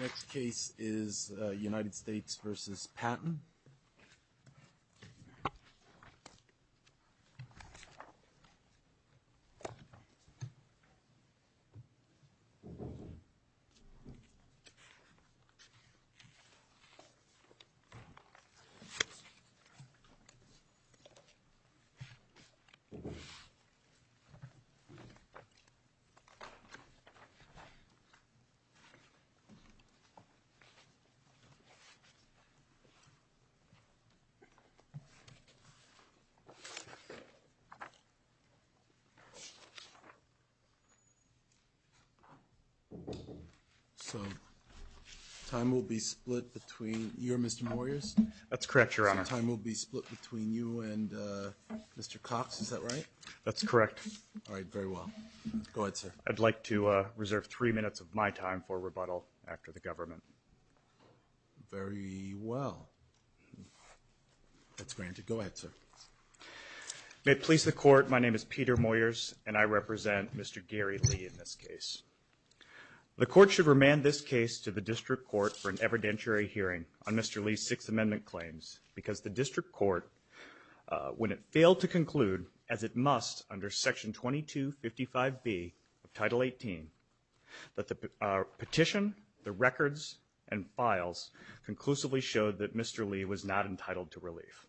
Next case is United States versus Patton So, time will be split between you and Mr. Moyers.That's correct, your honor. So time will be split between you and Mr. Cox, is that right? That's correct. All right, very well. Go ahead, sir. I'd like to reserve three minutes of my time for rebuttal after the government. Very well. That's granted. Go ahead, sir. May it please the court, my name is Peter Moyers and I represent Mr. Gary Lee in this case. The court should remand this case to the district court for an evidentiary hearing on Mr. Lee's Sixth Amendment claims because the district court, when it failed to conclude, as it must under Section 2255B of Title 18, that the petition, the records, and files conclusively showed that Mr. Lee was not entitled to relief.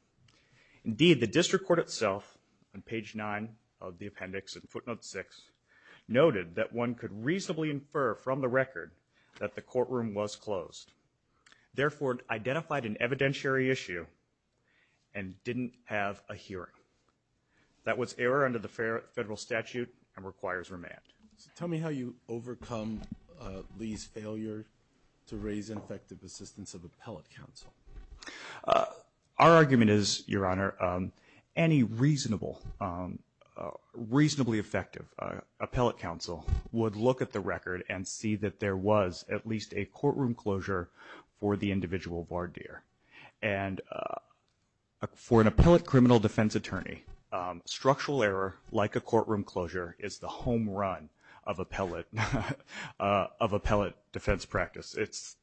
Indeed, the district court itself, on page 9 of the appendix in footnote 6, noted that one could reasonably infer from the record that the courtroom was closed, therefore identified an evidentiary issue and didn't have a hearing. That was error under the federal statute and requires remand. Tell me how you overcome Lee's failure to raise effective assistance of appellate counsel. Our argument is, Your Honor, any reasonable, reasonably effective appellate counsel would look at the record and see that there was at least a courtroom closure for the individual defense attorney. Structural error, like a courtroom closure, is the home run of appellate defense practice. It's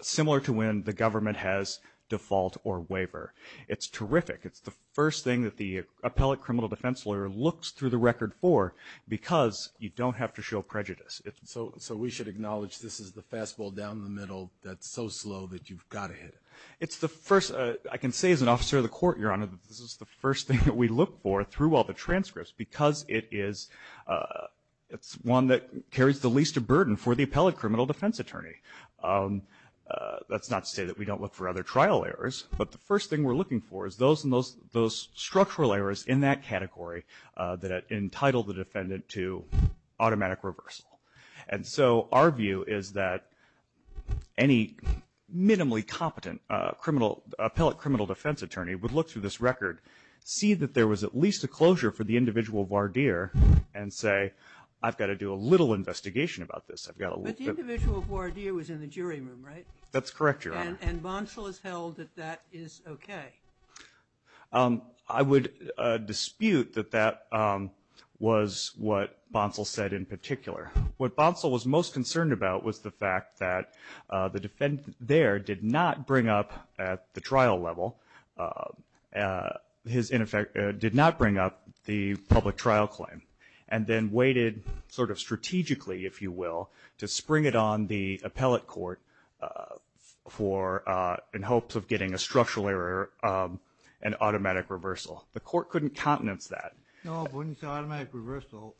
similar to when the government has default or waiver. It's terrific. It's the first thing that the appellate criminal defense lawyer looks through the record for because you don't have to show prejudice. So we should acknowledge this is the fastball down the middle that's so slow that you've got to hit it. It's the first, I can say as an officer of the court, Your Honor, this is the first thing that we look for through all the transcripts because it is, it's one that carries the least of burden for the appellate criminal defense attorney. Let's not say that we don't look for other trial errors, but the first thing we're looking for is those structural errors in that category that entitle the defendant to automatic reversal. And so our view is that any minimally competent criminal, appellate criminal defense attorney would look through this record, see that there was at least a closure for the individual voir dire, and say, I've got to do a little investigation about this. I've got to look at- But the individual voir dire was in the jury room, right? That's correct, Your Honor. And Bonsall has held that that is okay. I would dispute that that was what Bonsall said in particular. What Bonsall was most concerned about was the fact that the defendant there did not bring up at the trial level, his, in effect, did not bring up the public trial claim and then waited sort of strategically, if you will, to spring it on the appellate court for, in hopes of getting a structural error, an automatic reversal. The court couldn't countenance that. No, but when you say automatic reversal,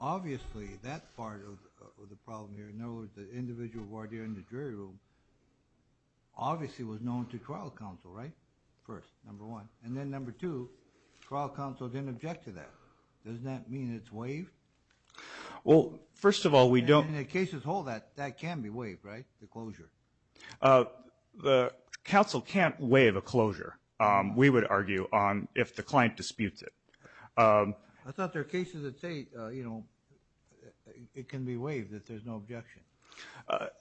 obviously, that part of the problem here, in other words, the individual voir dire in the jury room, obviously was known to trial counsel, right, first, number one. And then number two, trial counsel didn't object to that. Doesn't that mean it's waived? Well, first of all, we don't- In the case as a whole, that can be waived, right, the closure? The counsel can't waive a closure, we would argue, on if the client disputes it. I thought there are cases that say, you know, it can be waived if there's no objection.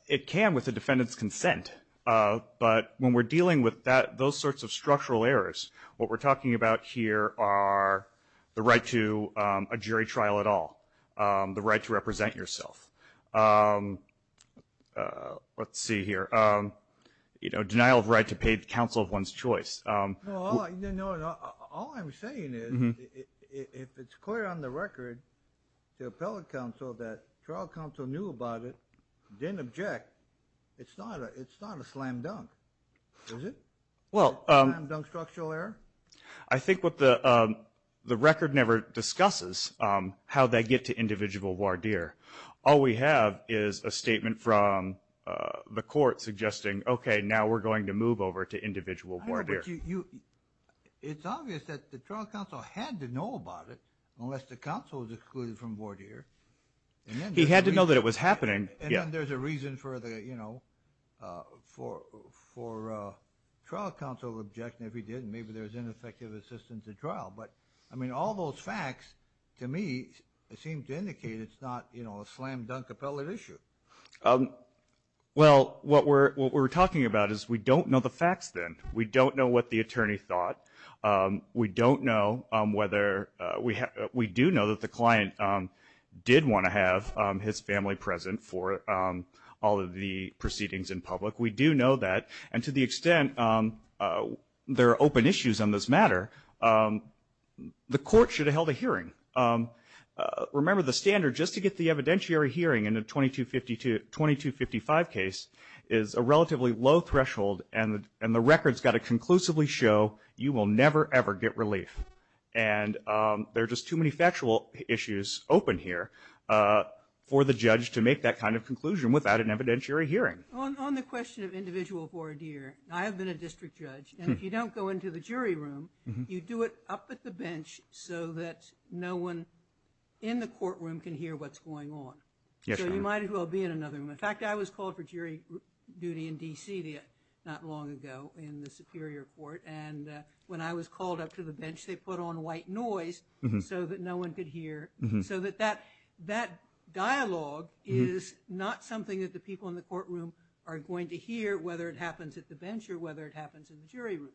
It can with the defendant's consent. But when we're dealing with that, those sorts of structural errors, what we're talking about here are the right to a jury trial at all, the right to represent yourself. Let's see here, you know, denial of right to pay counsel of one's choice. Well, all I'm saying is, if it's clear on the record to appellate counsel that trial counsel knew about it, didn't object, it's not a slam dunk, is it? Well- Is it a slam dunk structural error? I think what the record never discusses how they get to individual voir dire. All we have is a statement from the court suggesting, OK, now we're going to move over to individual voir dire. But it's obvious that the trial counsel had to know about it unless the counsel was excluded from voir dire. He had to know that it was happening. And then there's a reason for the, you know, for trial counsel objection if he didn't. Maybe there's ineffective assistance at trial. But I mean, all those facts, to me, seem to indicate it's not, you know, a slam dunk appellate issue. Well, what we're talking about is we don't know the facts then. We don't know what the attorney thought. We don't know whether we have we do know that the client did want to have his family present for all of the proceedings in public. We do know that. And to the extent there are open issues on this matter, the court should have held a hearing. Remember, the standard just to get the evidentiary hearing in a 2255 case is a standard that's got to conclusively show you will never, ever get relief. And there are just too many factual issues open here for the judge to make that kind of conclusion without an evidentiary hearing. On the question of individual voir dire, I have been a district judge. And if you don't go into the jury room, you do it up at the bench so that no one in the courtroom can hear what's going on. So you might as well be in another room. In fact, I was called for jury duty in D.C. not long ago in the Superior Court. And when I was called up to the bench, they put on white noise so that no one could hear. So that that that dialogue is not something that the people in the courtroom are going to hear, whether it happens at the bench or whether it happens in the jury room.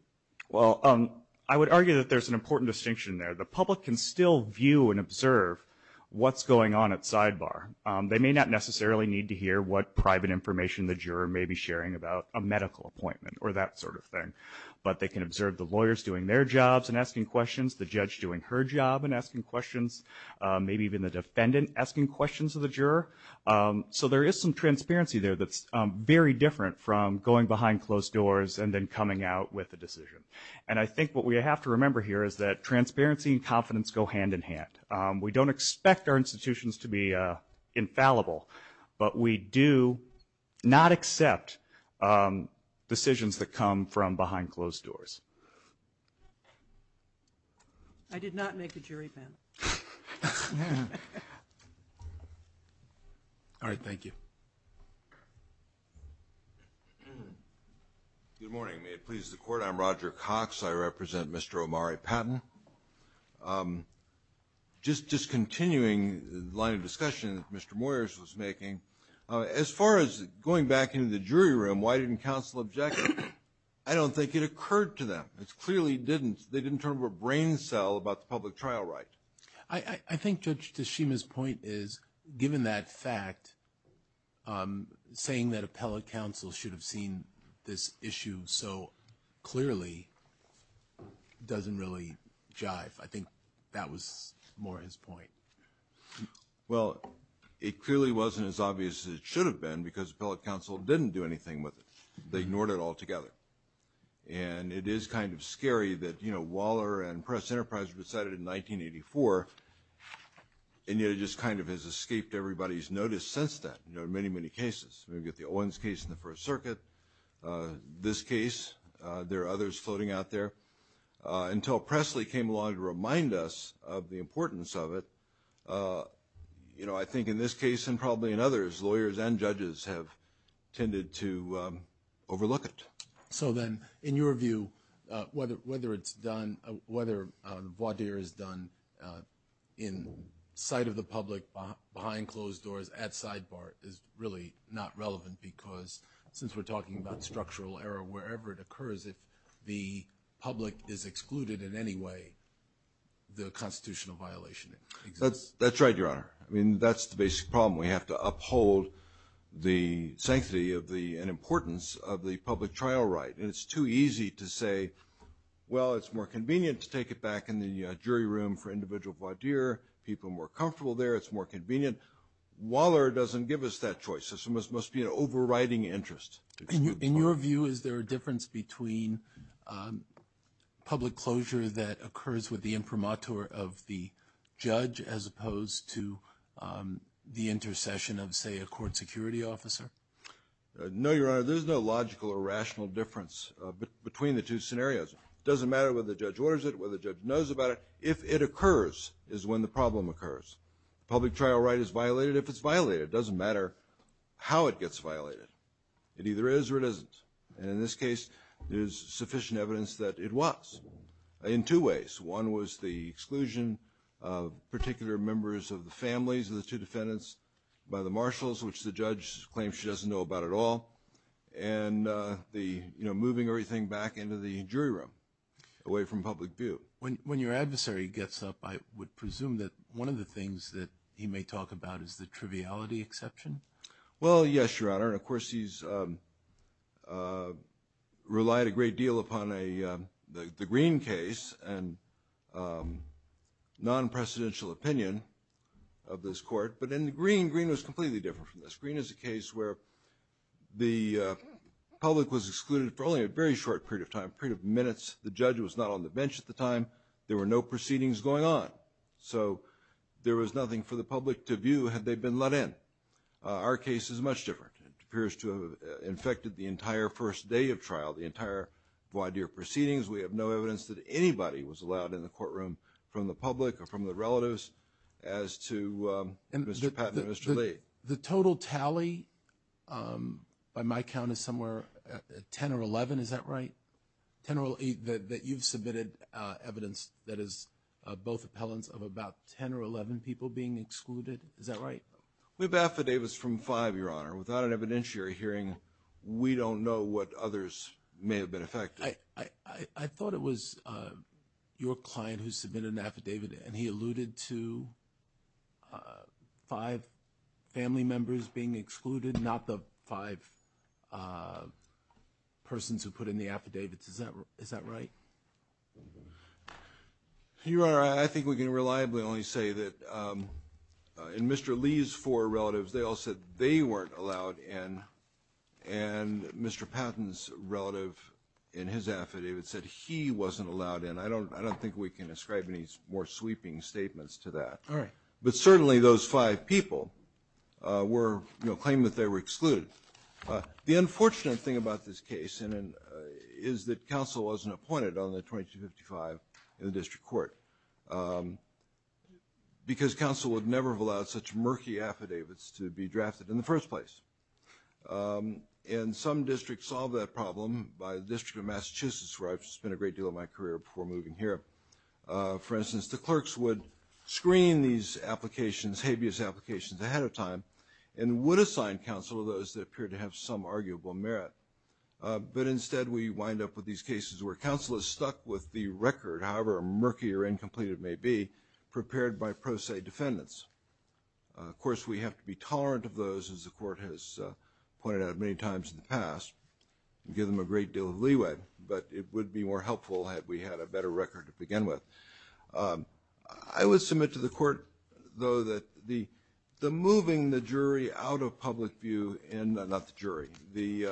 Well, I would argue that there's an important distinction there. The public can still view and observe what's going on at sidebar. They may not necessarily need to hear what private information the juror may be sharing about a medical appointment or that sort of thing. But they can observe the lawyers doing their jobs and asking questions, the judge doing her job and asking questions, maybe even the defendant asking questions of the juror. So there is some transparency there that's very different from going behind closed doors and then coming out with a decision. And I think what we have to remember here is that transparency and confidence go hand in hand. We don't expect our institutions to be. Infallible, but we do not accept decisions that come from behind closed doors. I did not make the jury panel. All right, thank you. Good morning, please, the court. I'm Roger Cox. I represent Mr. Omari Patton. I'm just discontinuing the line of discussion that Mr. Moyers was making as far as going back into the jury room. Why didn't counsel object? I don't think it occurred to them. It's clearly didn't. They didn't turn a brain cell about the public trial. Right. I think Judge Tashima's point is, given that fact, saying that appellate counsel should have seen this issue so clearly doesn't really jive. I think that was more his point. Well, it clearly wasn't as obvious as it should have been because appellate counsel didn't do anything with it. They ignored it altogether. And it is kind of scary that, you know, Waller and Press Enterprise decided in 1984. And yet it just kind of has escaped everybody's notice since that, you know, in many, many cases. We get the Owens case in the First Circuit. This case, there are others floating out there until Presley came along to remind us of the importance of it. You know, I think in this case and probably in others, lawyers and judges have tended to overlook it. So then in your view, whether whether it's done, whether the voir dire is done in sight of the public behind closed doors at sidebar is really not relevant because since we're talking about structural error, wherever it occurs, if the public is excluded in any way, the constitutional violation exists. That's right, Your Honor. I mean, that's the basic problem. We have to uphold the sanctity of the importance of the public trial right. And it's too easy to say, well, it's more convenient to take it back in the jury room for there. It's more convenient. Waller doesn't give us that choice. This must be an overriding interest. In your view, is there a difference between public closure that occurs with the imprimatur of the judge as opposed to the intercession of, say, a court security officer? No, Your Honor, there's no logical or rational difference between the two scenarios. It doesn't matter whether the judge orders it, whether the judge knows about it. If it occurs is when the problem occurs. Public trial right is violated. If it's violated, it doesn't matter how it gets violated. It either is or it isn't. And in this case, there's sufficient evidence that it was in two ways. One was the exclusion of particular members of the families of the two defendants by the marshals, which the judge claims she doesn't know about at all. And the moving everything back into the jury room away from public view. When your adversary gets up, I would presume that one of the things that he may talk about is the triviality exception. Well, yes, Your Honor. Of course, he's relied a great deal upon the Green case and non-precedential opinion of this court. But in the Green, Green was completely different from this. Green is a case where the public was excluded for only a very short period of time, a period of minutes. The judge was not on the bench at the time. There were no proceedings going on. So there was nothing for the public to view had they been let in. Our case is much different. It appears to have infected the entire first day of trial, the entire wide year proceedings. We have no evidence that anybody was allowed in the courtroom from the public or from the relatives as to Mr. Patton and Mr. Lee. The total tally by my count is somewhere at 10 or 11. Is that right? 10 or 8 that you've submitted evidence that is both appellants of about 10 or 11 people being excluded. Is that right? We have affidavits from five, Your Honor. Without an evidentiary hearing, we don't know what others may have been affected. I thought it was your client who submitted an affidavit and he alluded to five family members being excluded, not the five persons who put in the affidavits. Is that is that right? Your Honor, I think we can reliably only say that in Mr. Lee's four relatives, they all said they weren't allowed in. And Mr. Patton's relative in his affidavit said he wasn't allowed in. I don't I don't think we can ascribe any more sweeping statements to that. All right. But certainly those five people were claiming that they were excluded. The unfortunate thing about this case is that counsel wasn't appointed on the 2255 in the district court because counsel would never have allowed such murky affidavits to be drafted in the first place. And some districts solve that problem by the District of Massachusetts, where I've spent a great deal of my career before moving here. For instance, the clerks would screen these applications, habeas applications ahead of time and would assign counsel to those that appear to have some arguable merit. But instead, we wind up with these cases where counsel is stuck with the record, however murky or incomplete it may be, prepared by pro se defendants. Of course, we have to be tolerant of those, as the court has pointed out many times in the past, give them a great deal of leeway. But it would be more helpful had we had a better record to begin with. I would submit to the court, though, that the the moving the jury out of public view and not the jury, the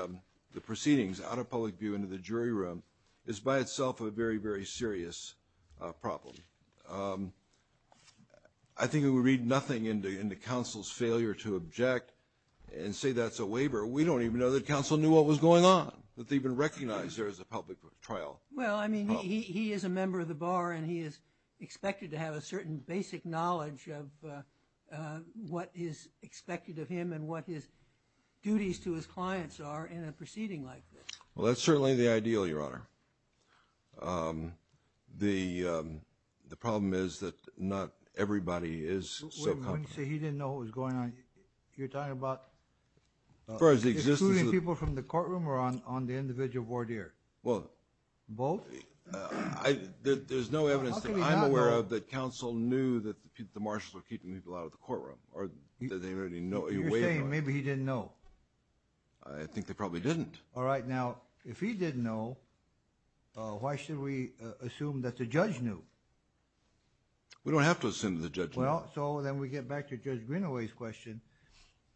the proceedings out of public view into the jury room is by itself a very, very serious problem. I think it would read nothing into into counsel's failure to object and say that's a waiver. We don't even know that counsel knew what was going on, that they've been recognized there as a public trial. Well, I mean, he is a member of the bar and he is expected to have a certain basic knowledge of what is expected of him and what his duties to his clients are in a proceeding like this. Well, that's certainly the ideal, Your Honor. The the problem is that not everybody is so comfortable. He didn't know what was going on. You're talking about. As far as the existence of people from the courtroom or on on the individual voir dire. Well, both. There's no evidence that I'm aware of that counsel knew that the marshals were keeping people out of the courtroom or that they already know. You're saying maybe he didn't know. I think they probably didn't. All right. Now, if he didn't know, why should we assume that the judge knew? We don't have to assume the judge. Well, so then we get back to Judge Greenaway's question,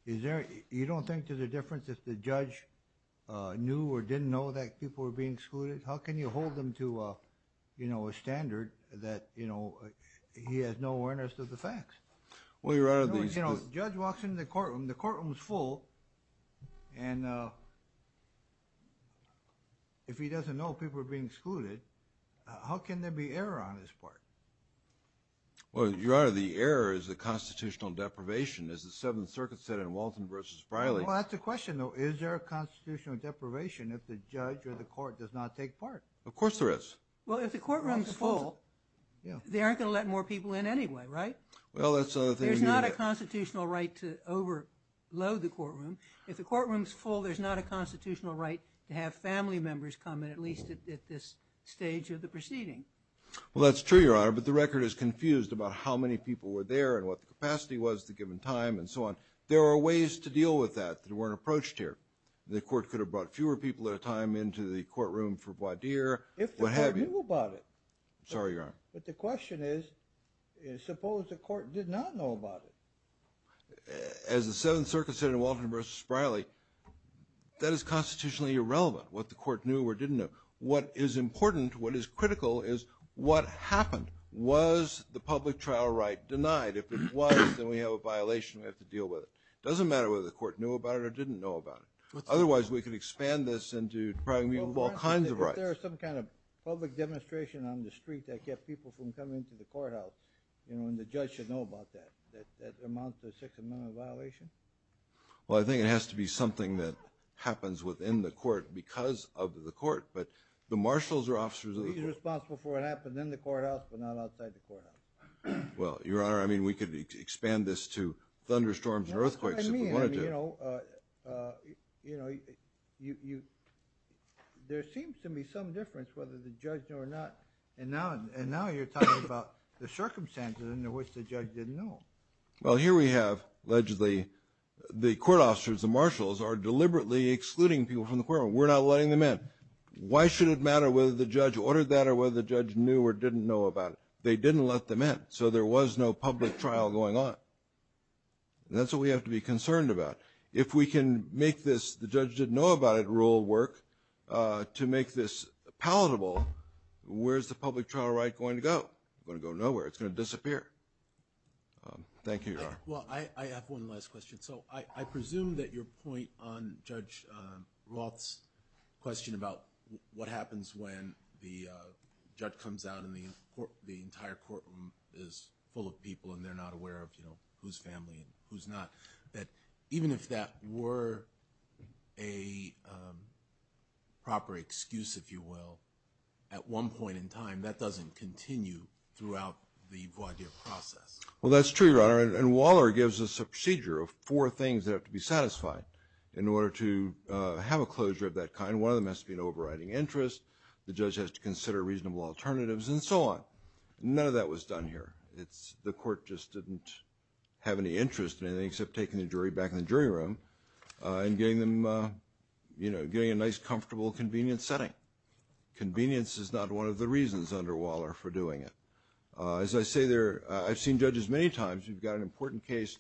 is there you don't think there's a difference if the judge knew or didn't know that people were being excluded? How can you hold them to a, you know, a standard that, you know, he has no awareness of the facts? Well, you're out of these, you know, judge walks in the courtroom, the courtroom is full. And if he doesn't know people are being excluded, how can there be error on his part? Well, your honor, the error is the constitutional deprivation is the Seventh Circuit said in Walton versus Freilich. Well, that's the question, though. Is there a constitutional deprivation if the judge or the court does not take part? Of course there is. Well, if the courtroom is full, they aren't going to let more people in anyway, right? Well, that's not a constitutional right to overload the courtroom. If the courtroom is full, there's not a constitutional right to have family members come in, at least at this stage of the proceeding. Well, that's true, your honor. But the record is confused about how many people were there and what the capacity was at the given time and so on. There are ways to deal with that that weren't approached here. The court could have brought fewer people at a time into the courtroom for voir dire, what have you. If the court knew about it. Sorry, your honor. But the question is, suppose the court did not know about it. As the Seventh Circuit said in Walton versus Freilich, that is constitutionally irrelevant what the court knew or didn't know. What is important, what is critical is what happened. Was the public trial right denied? If it was, then we have a violation. We have to deal with it. It doesn't matter whether the court knew about it or didn't know about it. Otherwise we could expand this into probably all kinds of rights. If there was some kind of public demonstration on the street that kept people from coming to the courthouse, you know, and the judge should know about that, that amounts to a Sixth Amendment violation? Well, I think it has to be something that happens within the court because of the court, but the marshals are officers of the court. He's responsible for what happened in the courthouse, but not outside the courthouse. Well, your honor, I mean, we could expand this to thunderstorms and earthquakes if we wanted to. I mean, I mean, you know, uh, uh, you know, you, you, you, there seems to be some difference whether the judge knew or not, and now, and now you're talking about the circumstances under which the judge didn't know. Well, here we have allegedly the court officers, the marshals are deliberately excluding people from the courtroom. We're not letting them in. Why should it matter whether the judge ordered that or whether the judge knew or didn't know about it? They didn't let them in. So there was no public trial going on. That's what we have to be concerned about. If we can make this, the judge didn't know about it rule work, uh, to make this palatable, where's the public trial right going to go? It's going to go nowhere. It's going to disappear. Um, thank you, your honor. Well, I, I have one last question. So I, I presume that your point on judge, um, Roth's question about what happens when the, uh, judge comes out in the court, the entire courtroom is full of people and they're not aware of, you know, who's family and who's not that even if that were a, um, proper excuse, if you will, at one point in time, that doesn't continue throughout the process. Well, that's true. And Waller gives us a procedure of four things that have to be satisfied in order to, uh, have a closure of that kind. One of them has to be an overriding interest. The judge has to consider reasonable alternatives and so on. None of that was done here. It's the court just didn't have any interest in anything except taking the jury back in the jury room, uh, and getting them, uh, you know, getting a nice, comfortable, convenient setting. Convenience is not one of the reasons under Waller for doing it. Uh, as I say there, uh, I've seen judges many times, you've got an important case,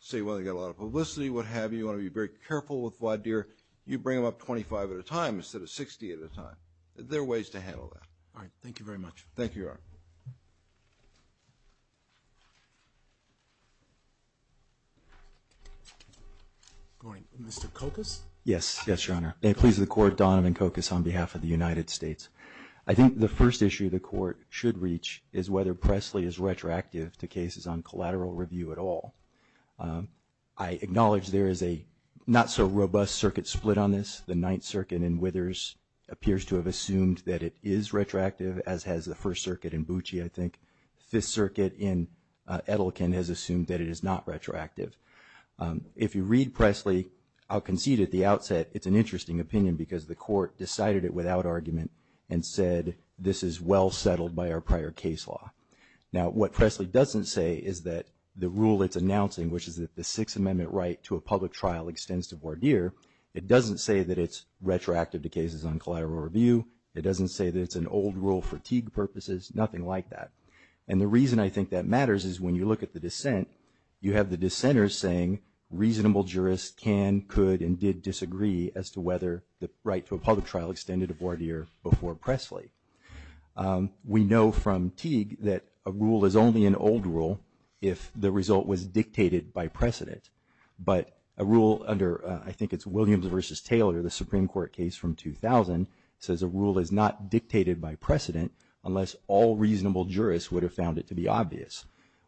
say, well, they got a lot of publicity, what have you, you want to be very careful with Waddeer, you bring them up 25 at a time instead of 60 at a time, there are ways to handle that. All right. Thank you very much. Thank you, Your Honor. Going to Mr. Cocos. Yes. Yes, Your Honor. May it please the court, Donovan Cocos on behalf of the United States. I think the first issue the court should reach is whether Presley is retroactive to cases on collateral review at all. Um, I acknowledge there is a not so robust circuit split on this. The Ninth Circuit in Withers appears to have assumed that it is retroactive as has the First Circuit in Bucci. I think Fifth Circuit in, uh, Edelkin has assumed that it is not retroactive. Um, if you read Presley, I'll concede at the outset, it's an interesting opinion because the court decided it without argument and said, this is well settled by our prior case law. Now, what Presley doesn't say is that the rule it's announcing, which is that the Sixth Amendment right to a public trial extends to Waddeer, it doesn't say that it's retroactive to cases on collateral review, it doesn't say that it's an old rule for Teague purposes, nothing like that, and the reason I think that matters is when you look at the dissent, you have the dissenters saying reasonable jurists can, could, and did disagree as to whether the right to a public trial extended to Waddeer before Presley. Um, we know from Teague that a rule is only an old rule if the result was dictated by precedent. But a rule under, uh, I think it's Williams versus Taylor, the Supreme Court case from 2000 says a rule is not dictated by precedent unless all reasonable jurists would have found it to be obvious.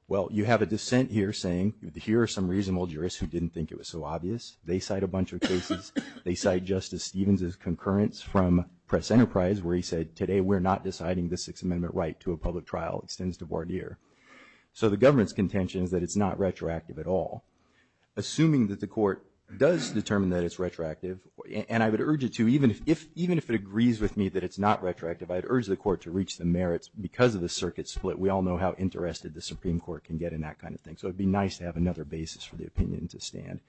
Well, you have a dissent here saying here are some reasonable jurists who didn't think it was so obvious. They cite a bunch of cases. They cite Justice Stevens's concurrence from Press Enterprise, where he said today, we're not deciding the Sixth Amendment right to a public trial extends to Waddeer, so the government's contention is that it's not retroactive at all. Assuming that the court does determine that it's retroactive, and I would urge it to, even if, if, even if it agrees with me that it's not retroactive, I'd urge the court to reach the merits because of the circuit split, we all know how interested the Supreme Court can get in that kind of thing. So it'd be nice to have another basis for the opinion to stand.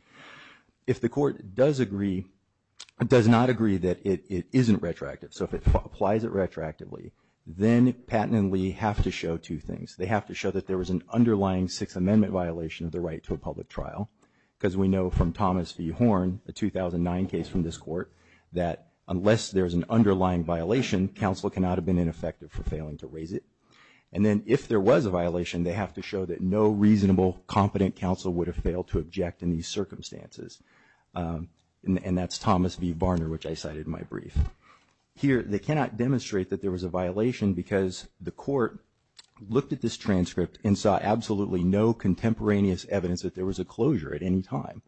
If the court does agree, does not agree that it, it isn't retroactive. So if it applies it retroactively, then Patten and Lee have to show two things. They have to show that there was an underlying Sixth Amendment violation of the right to a public trial, because we know from Thomas V Horn, the 2009 case from this court, that unless there's an underlying violation, counsel cannot have been ineffective for failing to raise it. And then if there was a violation, they have to show that no reasonable, competent counsel would have failed to object in these circumstances. And, and that's Thomas V Barner, which I cited in my brief. Here, they cannot demonstrate that there was a violation because the court looked at this transcript and saw absolutely no contemporaneous evidence that there was a closure at any time.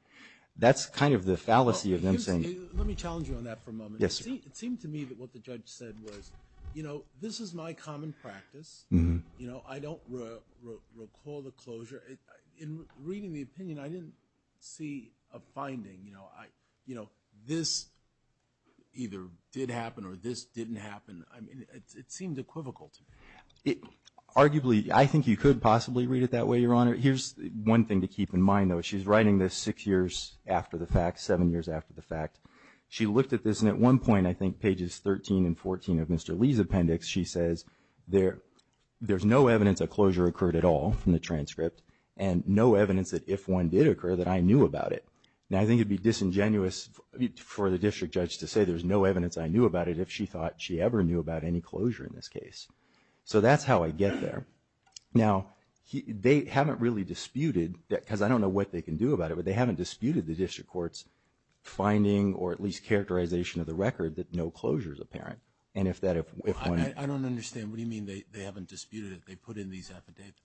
That's kind of the fallacy of them saying. Let me challenge you on that for a moment. Yes, sir. It seemed to me that what the judge said was, you know, this is my common practice, you know, I don't recall the closure. In reading the opinion, I didn't see a finding, you know, I, you know, this either did happen or this didn't happen. I mean, it, it seemed equivocal to me. It, arguably, I think you could possibly read it that way, Your Honor. Here's one thing to keep in mind, though. She's writing this six years after the fact, seven years after the fact. She looked at this, and at one point, I think pages 13 and 14 of Mr. Lee's appendix, she says, there, there's no evidence a closure occurred at all in the transcript, and no evidence that if one did occur, that I knew about it. Now, I think it'd be disingenuous for the district judge to say, there's no evidence I knew about it, if she thought she ever knew about any closure in this case. So, that's how I get there. Now, he, they haven't really disputed that, because I don't know what they can do about it, but they haven't disputed the district court's finding, or at least characterization of the record, that no closure is apparent. And if that, if, if one. I, I don't understand. What do you mean they, they haven't disputed it? They put in these affidavits.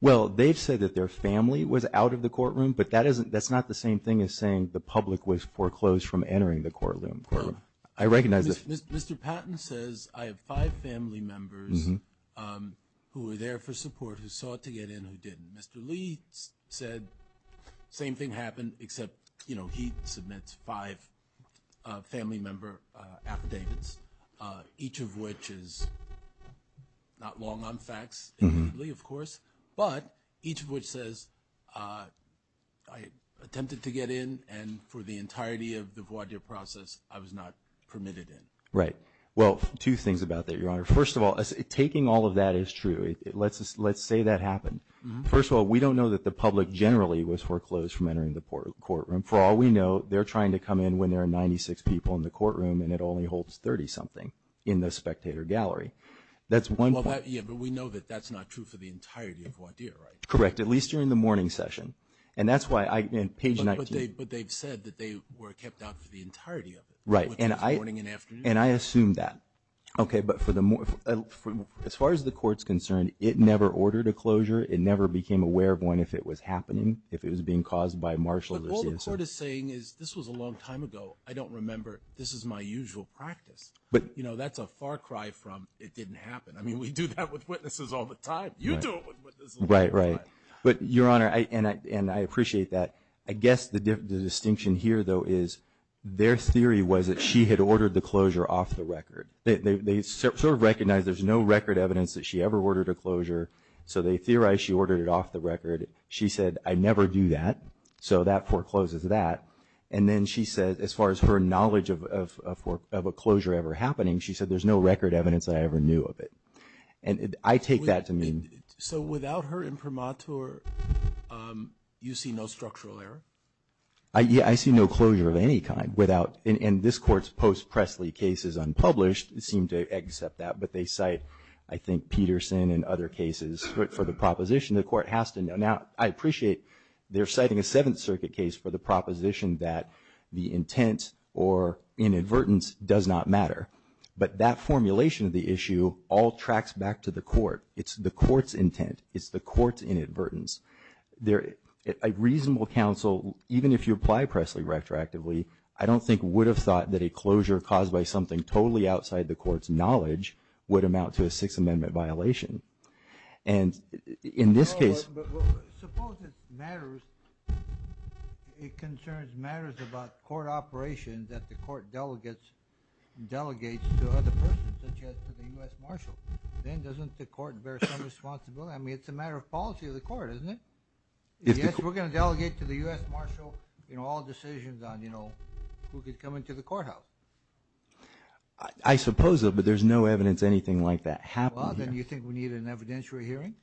Well, they've said that their family was out of the courtroom, but that isn't, that's not the same thing as saying the public was foreclosed from entering the courtroom, courtroom. I recognize that. Mr, Mr. Patton says, I have five family members who were there for support, who sought to get in, who didn't. Mr. Lee said, same thing happened, except, you know, he submits five family member affidavits. Each of which is not long on facts, immediately, of course, but each of which says, I attempted to get in, and for the entirety of the voir dire process, I was not permitted in. Well, two things about that, Your Honor. First of all, taking all of that is true. Let's, let's say that happened. First of all, we don't know that the public generally was foreclosed from entering the court, courtroom. For all we know, they're trying to come in when there are 96 people in the courtroom, and it only holds 30 something in the spectator gallery. That's one. Yeah, but we know that that's not true for the entirety of voir dire, right? Correct, at least during the morning session. And that's why I, in page 19. But they, but they've said that they were kept out for the entirety of it. Right. And I. Morning and afternoon. And I assume that. Okay, but for the, as far as the court's concerned, it never ordered a closure. It never became aware of one if it was happening, if it was being caused by a marshal or CSO. But all the court is saying is, this was a long time ago. I don't remember, this is my usual practice. But. You know, that's a far cry from, it didn't happen. I mean, we do that with witnesses all the time. You do it with witnesses all the time. Right, right. But, Your Honor, I, and I, and I appreciate that. I guess the, the distinction here, though, is, their theory was that she had ordered the closure off the record. They, they, they sort of recognize there's no record evidence that she ever ordered a closure, so they theorize she ordered it off the record. She said, I never do that. So that forecloses that. And then she said, as far as her knowledge of, of, of a closure ever happening, she said there's no record evidence that I ever knew of it. And I take that to mean. So without her imprimatur, you see no structural error? I, yeah, I see no closure of any kind without, and, and this court's post-Pressly case is unpublished. It seemed to accept that, but they cite, I think, Peterson and other cases, but for the proposition, the court has to know. Now, I appreciate they're citing a Seventh Circuit case for the proposition that the intent or inadvertence does not matter. But that formulation of the issue all tracks back to the court. It's the court's intent. It's the court's inadvertence. There, a reasonable counsel, even if you apply Pressley retroactively, I don't think would have thought that a closure caused by something totally outside the court's knowledge would amount to a Sixth Amendment violation. And in this case- Well, but suppose it matters, it concerns matters about court operation that the court delegates, delegates to other persons, such as to the US Marshal. Then doesn't the court bear some responsibility? I mean, it's a matter of policy of the court, isn't it? Yes, we're gonna delegate to the US Marshal, you know, all decisions on, you know, who could come into the courthouse. I suppose so, but there's no evidence anything like that happened here. Well, then you think we need an evidentiary hearing?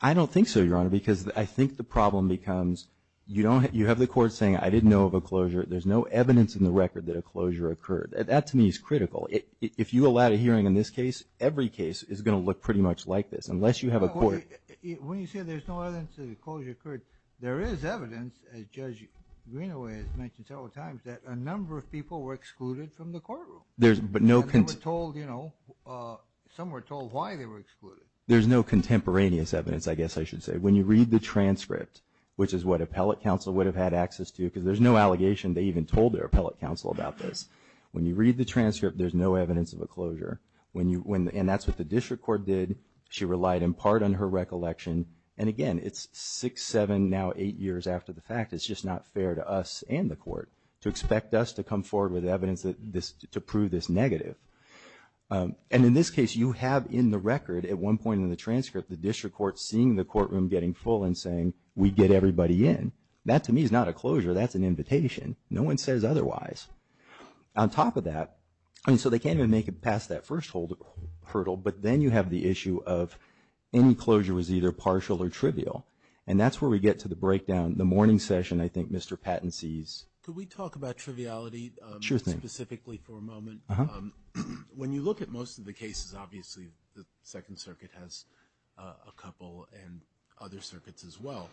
I don't think so, Your Honor, because I think the problem becomes, you have the court saying, I didn't know of a closure, there's no evidence in the record that a closure occurred. That to me is critical. If you allowed a hearing in this case, every case is gonna look pretty much like this, unless you have a court- When you say there's no evidence that a closure occurred, there is evidence, as Judge Greenaway has mentioned several times, that a number of people were excluded from the courtroom. There's, but no- Some were told, you know, some were told why they were excluded. There's no contemporaneous evidence, I guess I should say. When you read the transcript, which is what appellate counsel would have had access to, because there's no allegation, they even told their appellate counsel about this. When you read the transcript, there's no evidence of a closure. When you, when, and that's what the district court did. She relied in part on her recollection. And again, it's six, seven, now eight years after the fact, it's just not fair to us and the court to expect us to come forward with evidence to prove this negative. And in this case, you have in the record, at one point in the transcript, the district court seeing the courtroom getting full and saying, we get everybody in. That to me is not a closure, that's an invitation. No one says otherwise. On top of that, I mean, so they can't even make it past that first hurdle, but then you have the issue of any closure was either partial or trivial. And that's where we get to the breakdown, the morning session, I think Mr. Patton sees. Could we talk about triviality specifically for a moment? When you look at most of the cases, obviously, the second circuit has a couple and other circuits as well.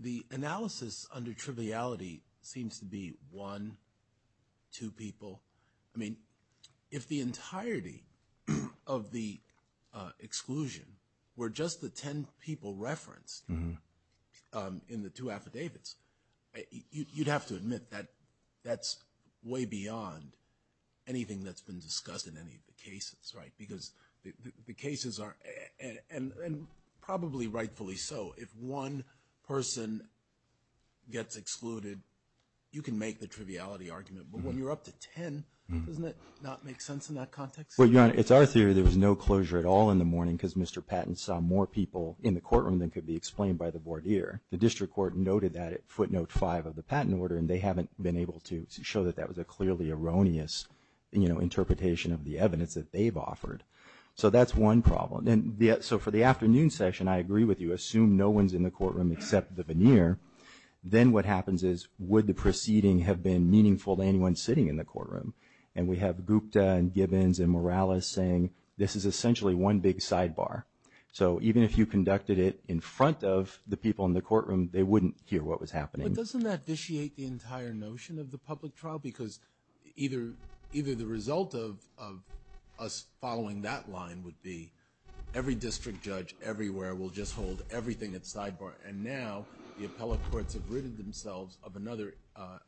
The analysis under triviality seems to be one, two people. I mean, if the entirety of the exclusion were just the ten people referenced in the two affidavits, you'd have to admit that that's way beyond anything that's been discussed in any of the cases, right? Because the cases are, and probably rightfully so, if one person gets excluded, you can make the triviality argument. But when you're up to ten, doesn't it not make sense in that context? Well, Your Honor, it's our theory there was no closure at all in the morning, because Mr. Patton saw more people in the courtroom than could be explained by the voir dire. The district court noted that at footnote five of the patent order, and they haven't been able to show that that was a clearly erroneous interpretation of the evidence that they've offered. So that's one problem. And so for the afternoon session, I agree with you, assume no one's in the courtroom except the veneer. Then what happens is, would the proceeding have been meaningful to anyone sitting in the courtroom? And we have Gupta and Gibbons and Morales saying, this is essentially one big sidebar. So even if you conducted it in front of the people in the courtroom, they wouldn't hear what was happening. But doesn't that vitiate the entire notion of the public trial? Because either the result of us following that line would be, every district judge everywhere will just hold everything at sidebar. And now the appellate courts have ridded themselves of another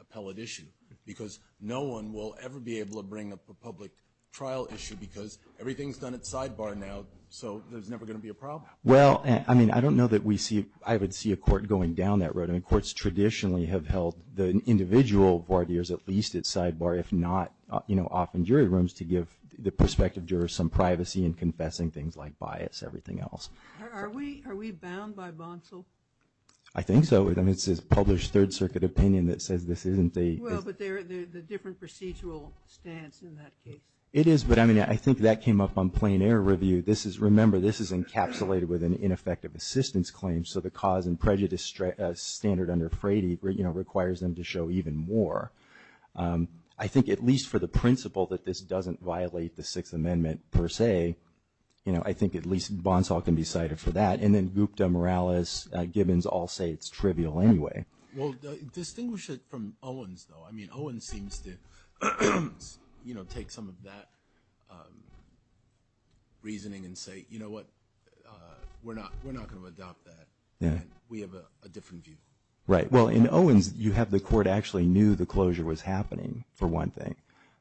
appellate issue. Because no one will ever be able to bring up a public trial issue, because everything's done at sidebar now. So there's never gonna be a problem. Well, I mean, I don't know that we see, I would see a court going down that road. I mean, courts traditionally have held the individual voir dires at least at sidebar. If not, often jury rooms to give the prospective jurors some privacy and confessing things like bias, everything else. Are we bound by Bonsall? I think so. I mean, it's this published Third Circuit opinion that says this isn't the- Well, but they're the different procedural stance in that case. It is, but I mean, I think that came up on plain air review. Remember, this is encapsulated with an ineffective assistance claim. So the cause and prejudice standard under Frady requires them to show even more. I think at least for the principle that this doesn't violate the Sixth Amendment, per se, I think at least Bonsall can be cited for that. And then Gupta, Morales, Gibbons all say it's trivial anyway. Well, distinguish it from Owens, though. I mean, Owens seems to take some of that reasoning and say, you know what, we're not going to adopt that, and we have a different view. Right, well, in Owens, you have the court actually knew the closure was happening, for one thing.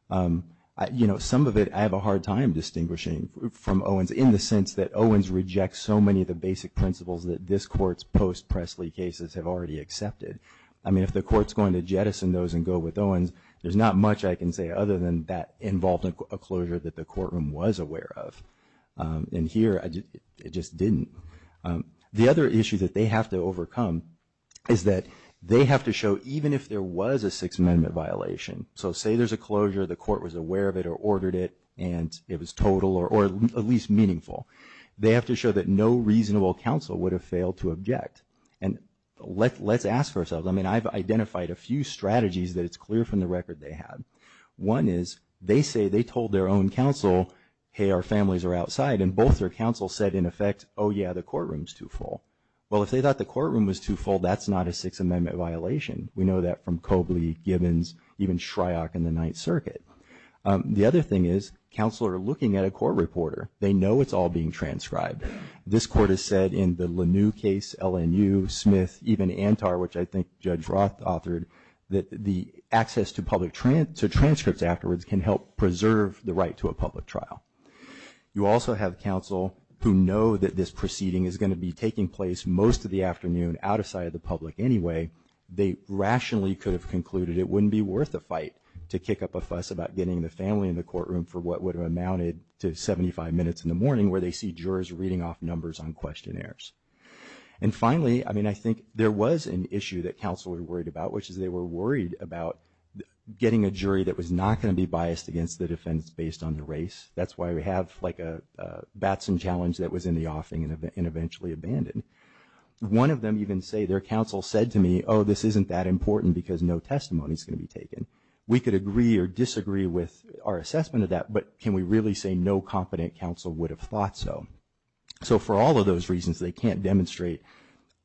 Some of it I have a hard time distinguishing from Owens in the sense that Owens rejects so many of the basic principles that this court's post-Presley cases have already accepted. I mean, if the court's going to jettison those and go with Owens, there's not much I can say other than that involved a closure that the courtroom was aware of, and here it just didn't. The other issue that they have to overcome is that they have to show, even if there was a Sixth Amendment violation, so say there's a closure, the court was aware of it or ordered it, and it was total or at least meaningful. And let's ask ourselves, I mean, I've identified a few strategies that it's clear from the record they have. One is, they say they told their own counsel, hey, our families are outside, and both their counsel said, in effect, yeah, the courtroom's too full. Well, if they thought the courtroom was too full, that's not a Sixth Amendment violation. We know that from Cobley, Gibbons, even Shryock in the Ninth Circuit. The other thing is, counsel are looking at a court reporter. They know it's all being transcribed. This court has said in the LaNue case, LNU, Smith, even Antar, which I think Judge Roth authored, that the access to public transcripts afterwards can help preserve the right to a public trial. You also have counsel who know that this proceeding is gonna be taking place most of the afternoon out of sight of the public anyway. They rationally could have concluded it wouldn't be worth the fight to kick up a fuss about getting the family in the courtroom for what would have amounted to 75 minutes in the morning, where they see jurors reading off numbers on questionnaires. And finally, I mean, I think there was an issue that counsel were worried about, which is they were worried about getting a jury that was not gonna be biased against the defense based on the race. That's why we have like a Batson challenge that was in the offing and eventually abandoned. One of them even say, their counsel said to me, this isn't that important because no testimony's gonna be taken. We could agree or disagree with our assessment of that, but can we really say no competent counsel would have thought so? So for all of those reasons, they can't demonstrate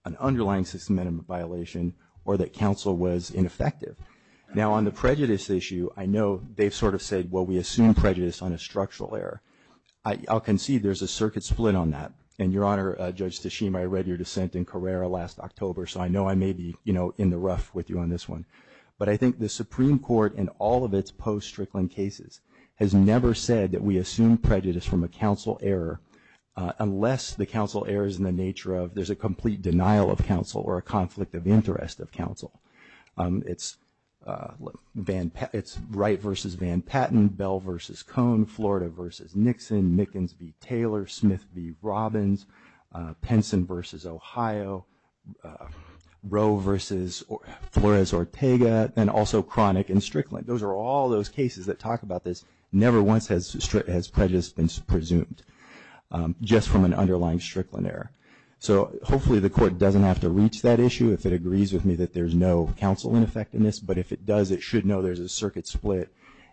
an underlying systematic violation or that counsel was ineffective. Now on the prejudice issue, I know they've sort of said, well, we assume prejudice on a structural error. I'll concede there's a circuit split on that. And Your Honor, Judge Tashima, I read your dissent in Carrera last October, so I know I may be in the rough with you on this one. But I think the Supreme Court in all of its post-Strickland cases has never said that we assume prejudice from a counsel error, unless the counsel error's in the nature of there's a complete denial of counsel or a conflict of interest of counsel. It's Wright versus Van Patten, Bell versus Cone, Florida versus Nixon, Mickens v. Taylor, Smith v. Robbins, Penson versus Ohio, Rowe versus Flores-Ortega, and also Chronic and Strickland. Those are all those cases that talk about this. Never once has prejudice been presumed just from an underlying Strickland error. So hopefully the court doesn't have to reach that issue if it agrees with me that there's no counsel ineffectiveness. But if it does, it should know there's a circuit split.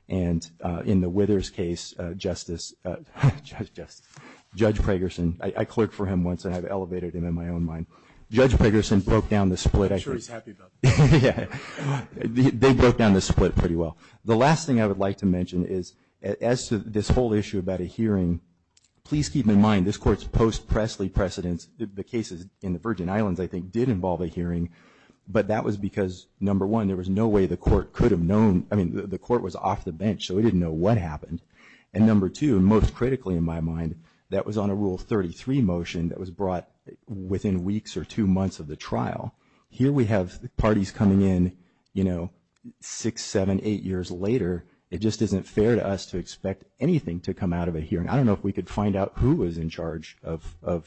And in the Withers case, Justice, Judge Pragerson, I clerked for him once and I've elevated him in my own mind. Judge Pragerson broke down the split. I'm sure he's happy about that. Yeah, they broke down the split pretty well. The last thing I would like to mention is, as to this whole issue about a hearing, please keep in mind this court's post-Pressley precedence, the cases in the Virgin Islands, I think, did involve a hearing. But that was because, number one, there was no way the court could have known, I mean, the court was off the bench, so it didn't know what happened. And number two, most critically in my mind, that was on a Rule 33 motion that was brought within weeks or two months of the trial. Here we have parties coming in, six, seven, eight years later. It just isn't fair to us to expect anything to come out of a hearing. I don't know if we could find out who was in charge of the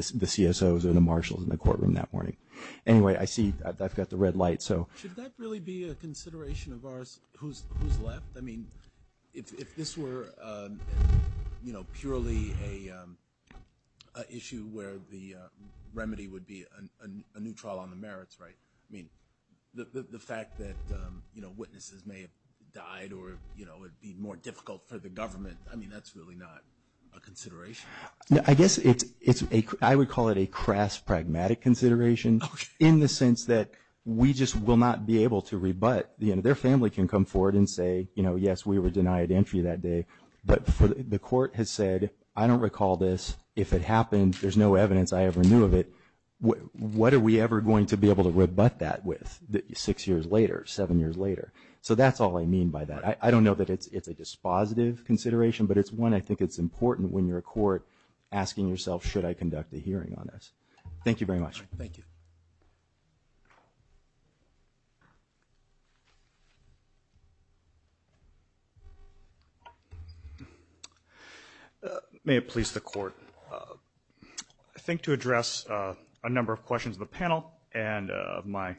CSOs or the marshals in the courtroom that morning. Anyway, I see, I've got the red light, so. Should that really be a consideration of ours, who's left? I mean, if this were purely a issue where the remedy would be a new trial on the merits, right? I mean, the fact that witnesses may have died or it would be more difficult for the government, I mean, that's really not a consideration. I guess it's, I would call it a crass, pragmatic consideration, in the sense that we just will not be able to rebut. Their family can come forward and say, yes, we were denied entry that day. But the court has said, I don't recall this, if it happened, there's no evidence I ever knew of it, what are we ever going to be able to rebut that with, six years later, seven years later? So that's all I mean by that. I don't know that it's a dispositive consideration, but it's one I think it's important when you're a court asking yourself, should I conduct a hearing on this? Thank you very much. Thank you. May it please the court. I think to address a number of questions of the panel and of my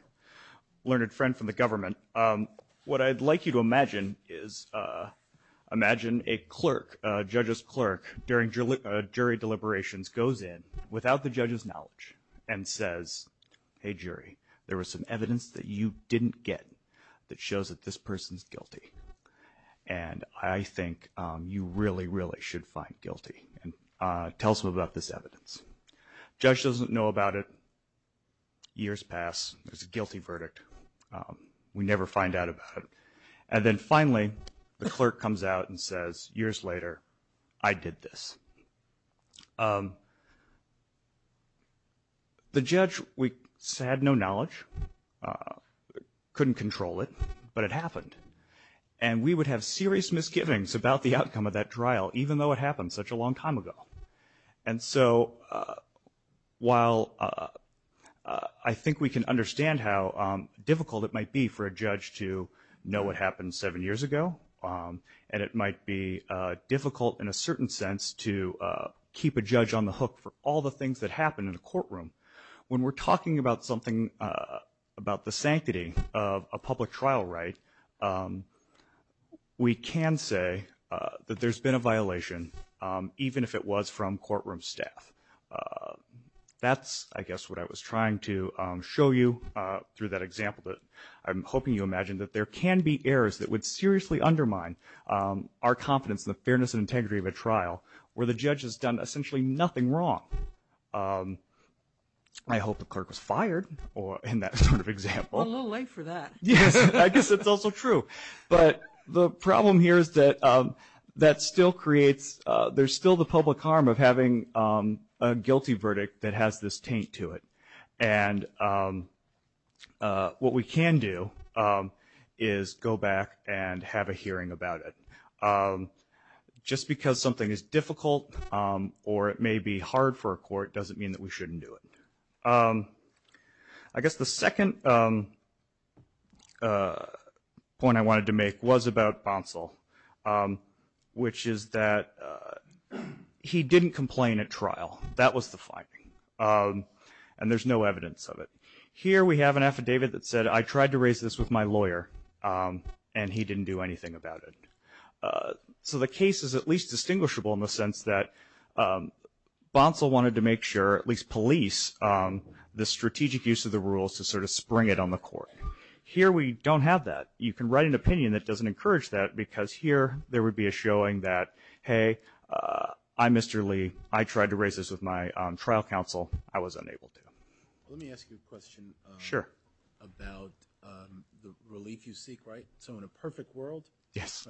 learned friend from the government, what I'd like you to imagine is, imagine a clerk, a judge's clerk, during jury deliberations goes in without the judge's knowledge and says, hey jury, there was some evidence that you didn't get that shows that this person's guilty. And I think you really, really should find guilty and tell us about this evidence. Judge doesn't know about it, years pass, it's a guilty verdict. We never find out about it. And then finally, the clerk comes out and says, years later, I did this. The judge had no knowledge, couldn't control it, but it happened. And we would have serious misgivings about the outcome of that trial, even though it happened such a long time ago. And so, while I think we can understand how difficult it might be for a judge to know what happened seven years ago, and it might be difficult in a certain sense to keep a judge on the hook for all the things that happen in a courtroom. When we're talking about something, about the sanctity of a public trial right, we can say that there's been a violation, even if it was from courtroom staff. That's, I guess, what I was trying to show you through that example. I'm hoping you imagine that there can be errors that would seriously undermine our confidence in the fairness and integrity of a trial, where the judge has done essentially nothing wrong. I hope the clerk was fired in that sort of example. A little late for that. Yes, I guess it's also true. But the problem here is that that still creates, there's still the public harm of having a guilty verdict that has this taint to it. And what we can do is go back and have a hearing about it. Just because something is difficult or it may be hard for a court, doesn't mean that we shouldn't do it. I guess the second point I wanted to make was about Bonsall, which is that he didn't complain at trial. That was the finding, and there's no evidence of it. Here we have an affidavit that said, I tried to raise this with my lawyer, and he didn't do anything about it. So the case is at least distinguishable in the sense that Bonsall wanted to make sure, at least police, the strategic use of the rules to sort of spring it on the court. Here we don't have that. You can write an opinion that doesn't encourage that, because here, there would be a showing that, hey, I'm Mr. Lee. I tried to raise this with my trial counsel. I was unable to. Let me ask you a question. Sure. About the relief you seek, right? So in a perfect world. Yes.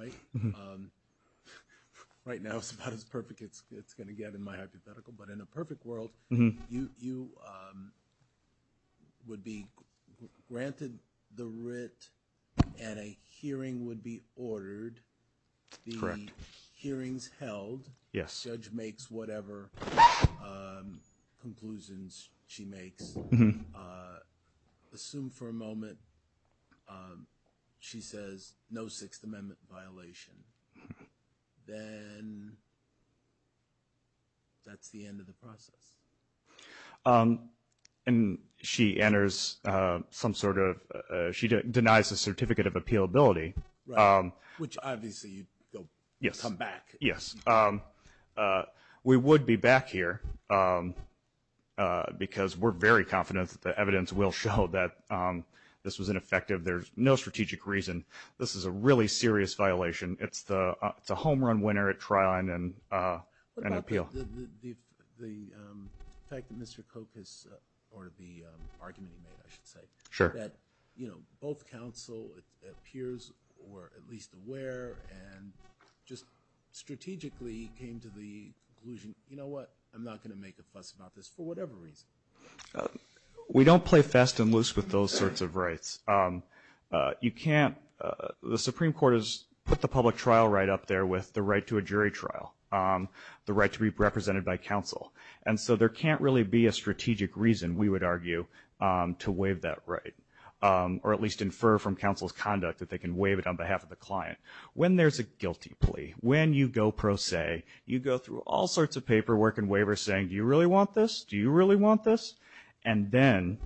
Right now, it's about as perfect as it's gonna get in my hypothetical. But in a perfect world, you would be granted the writ, and a hearing would be ordered. Correct. The hearing's held. Yes. Judge makes whatever conclusions she makes. Mm-hm. Assume for a moment she says, no Sixth Amendment violation. Then that's the end of the process. And she enters some sort of, she denies a certificate of appealability. Right. Which, obviously, you'd come back. Yes. We would be back here, because we're very confident that the evidence will show that this was ineffective. There's no strategic reason. This is a really serious violation. It's a home run winner at trial and appeal. What about the fact that Mr. Koch has, or the argument he made, I should say, that both counsel appears, or at least aware, and just strategically came to the conclusion, you know what? I'm not going to make a fuss about this for whatever reason. We don't play fast and loose with those sorts of rights. You can't, the Supreme Court has put the public trial right up there with the right to a jury trial, the right to be represented by counsel. And so there can't really be a strategic reason, we would argue, to waive that right, or at least infer from counsel's conduct that they can waive it on behalf of the client. When there's a guilty plea, when you go pro se, you go through all sorts of paperwork and waivers saying, do you really want this? Do you really want this? And then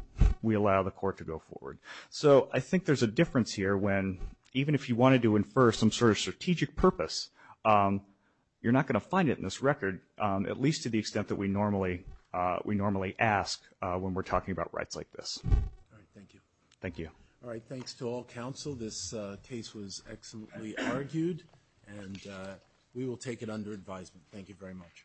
we allow the court to go forward. So I think there's a difference here when, even if you wanted to infer some sort of strategic purpose, you're not going to find it in this record, at least to the extent that we normally ask when we're talking about rights like this. All right, thank you. Thank you. All right, thanks to all counsel. This case was excellently argued, and we will take it under advisement. Thank you very much.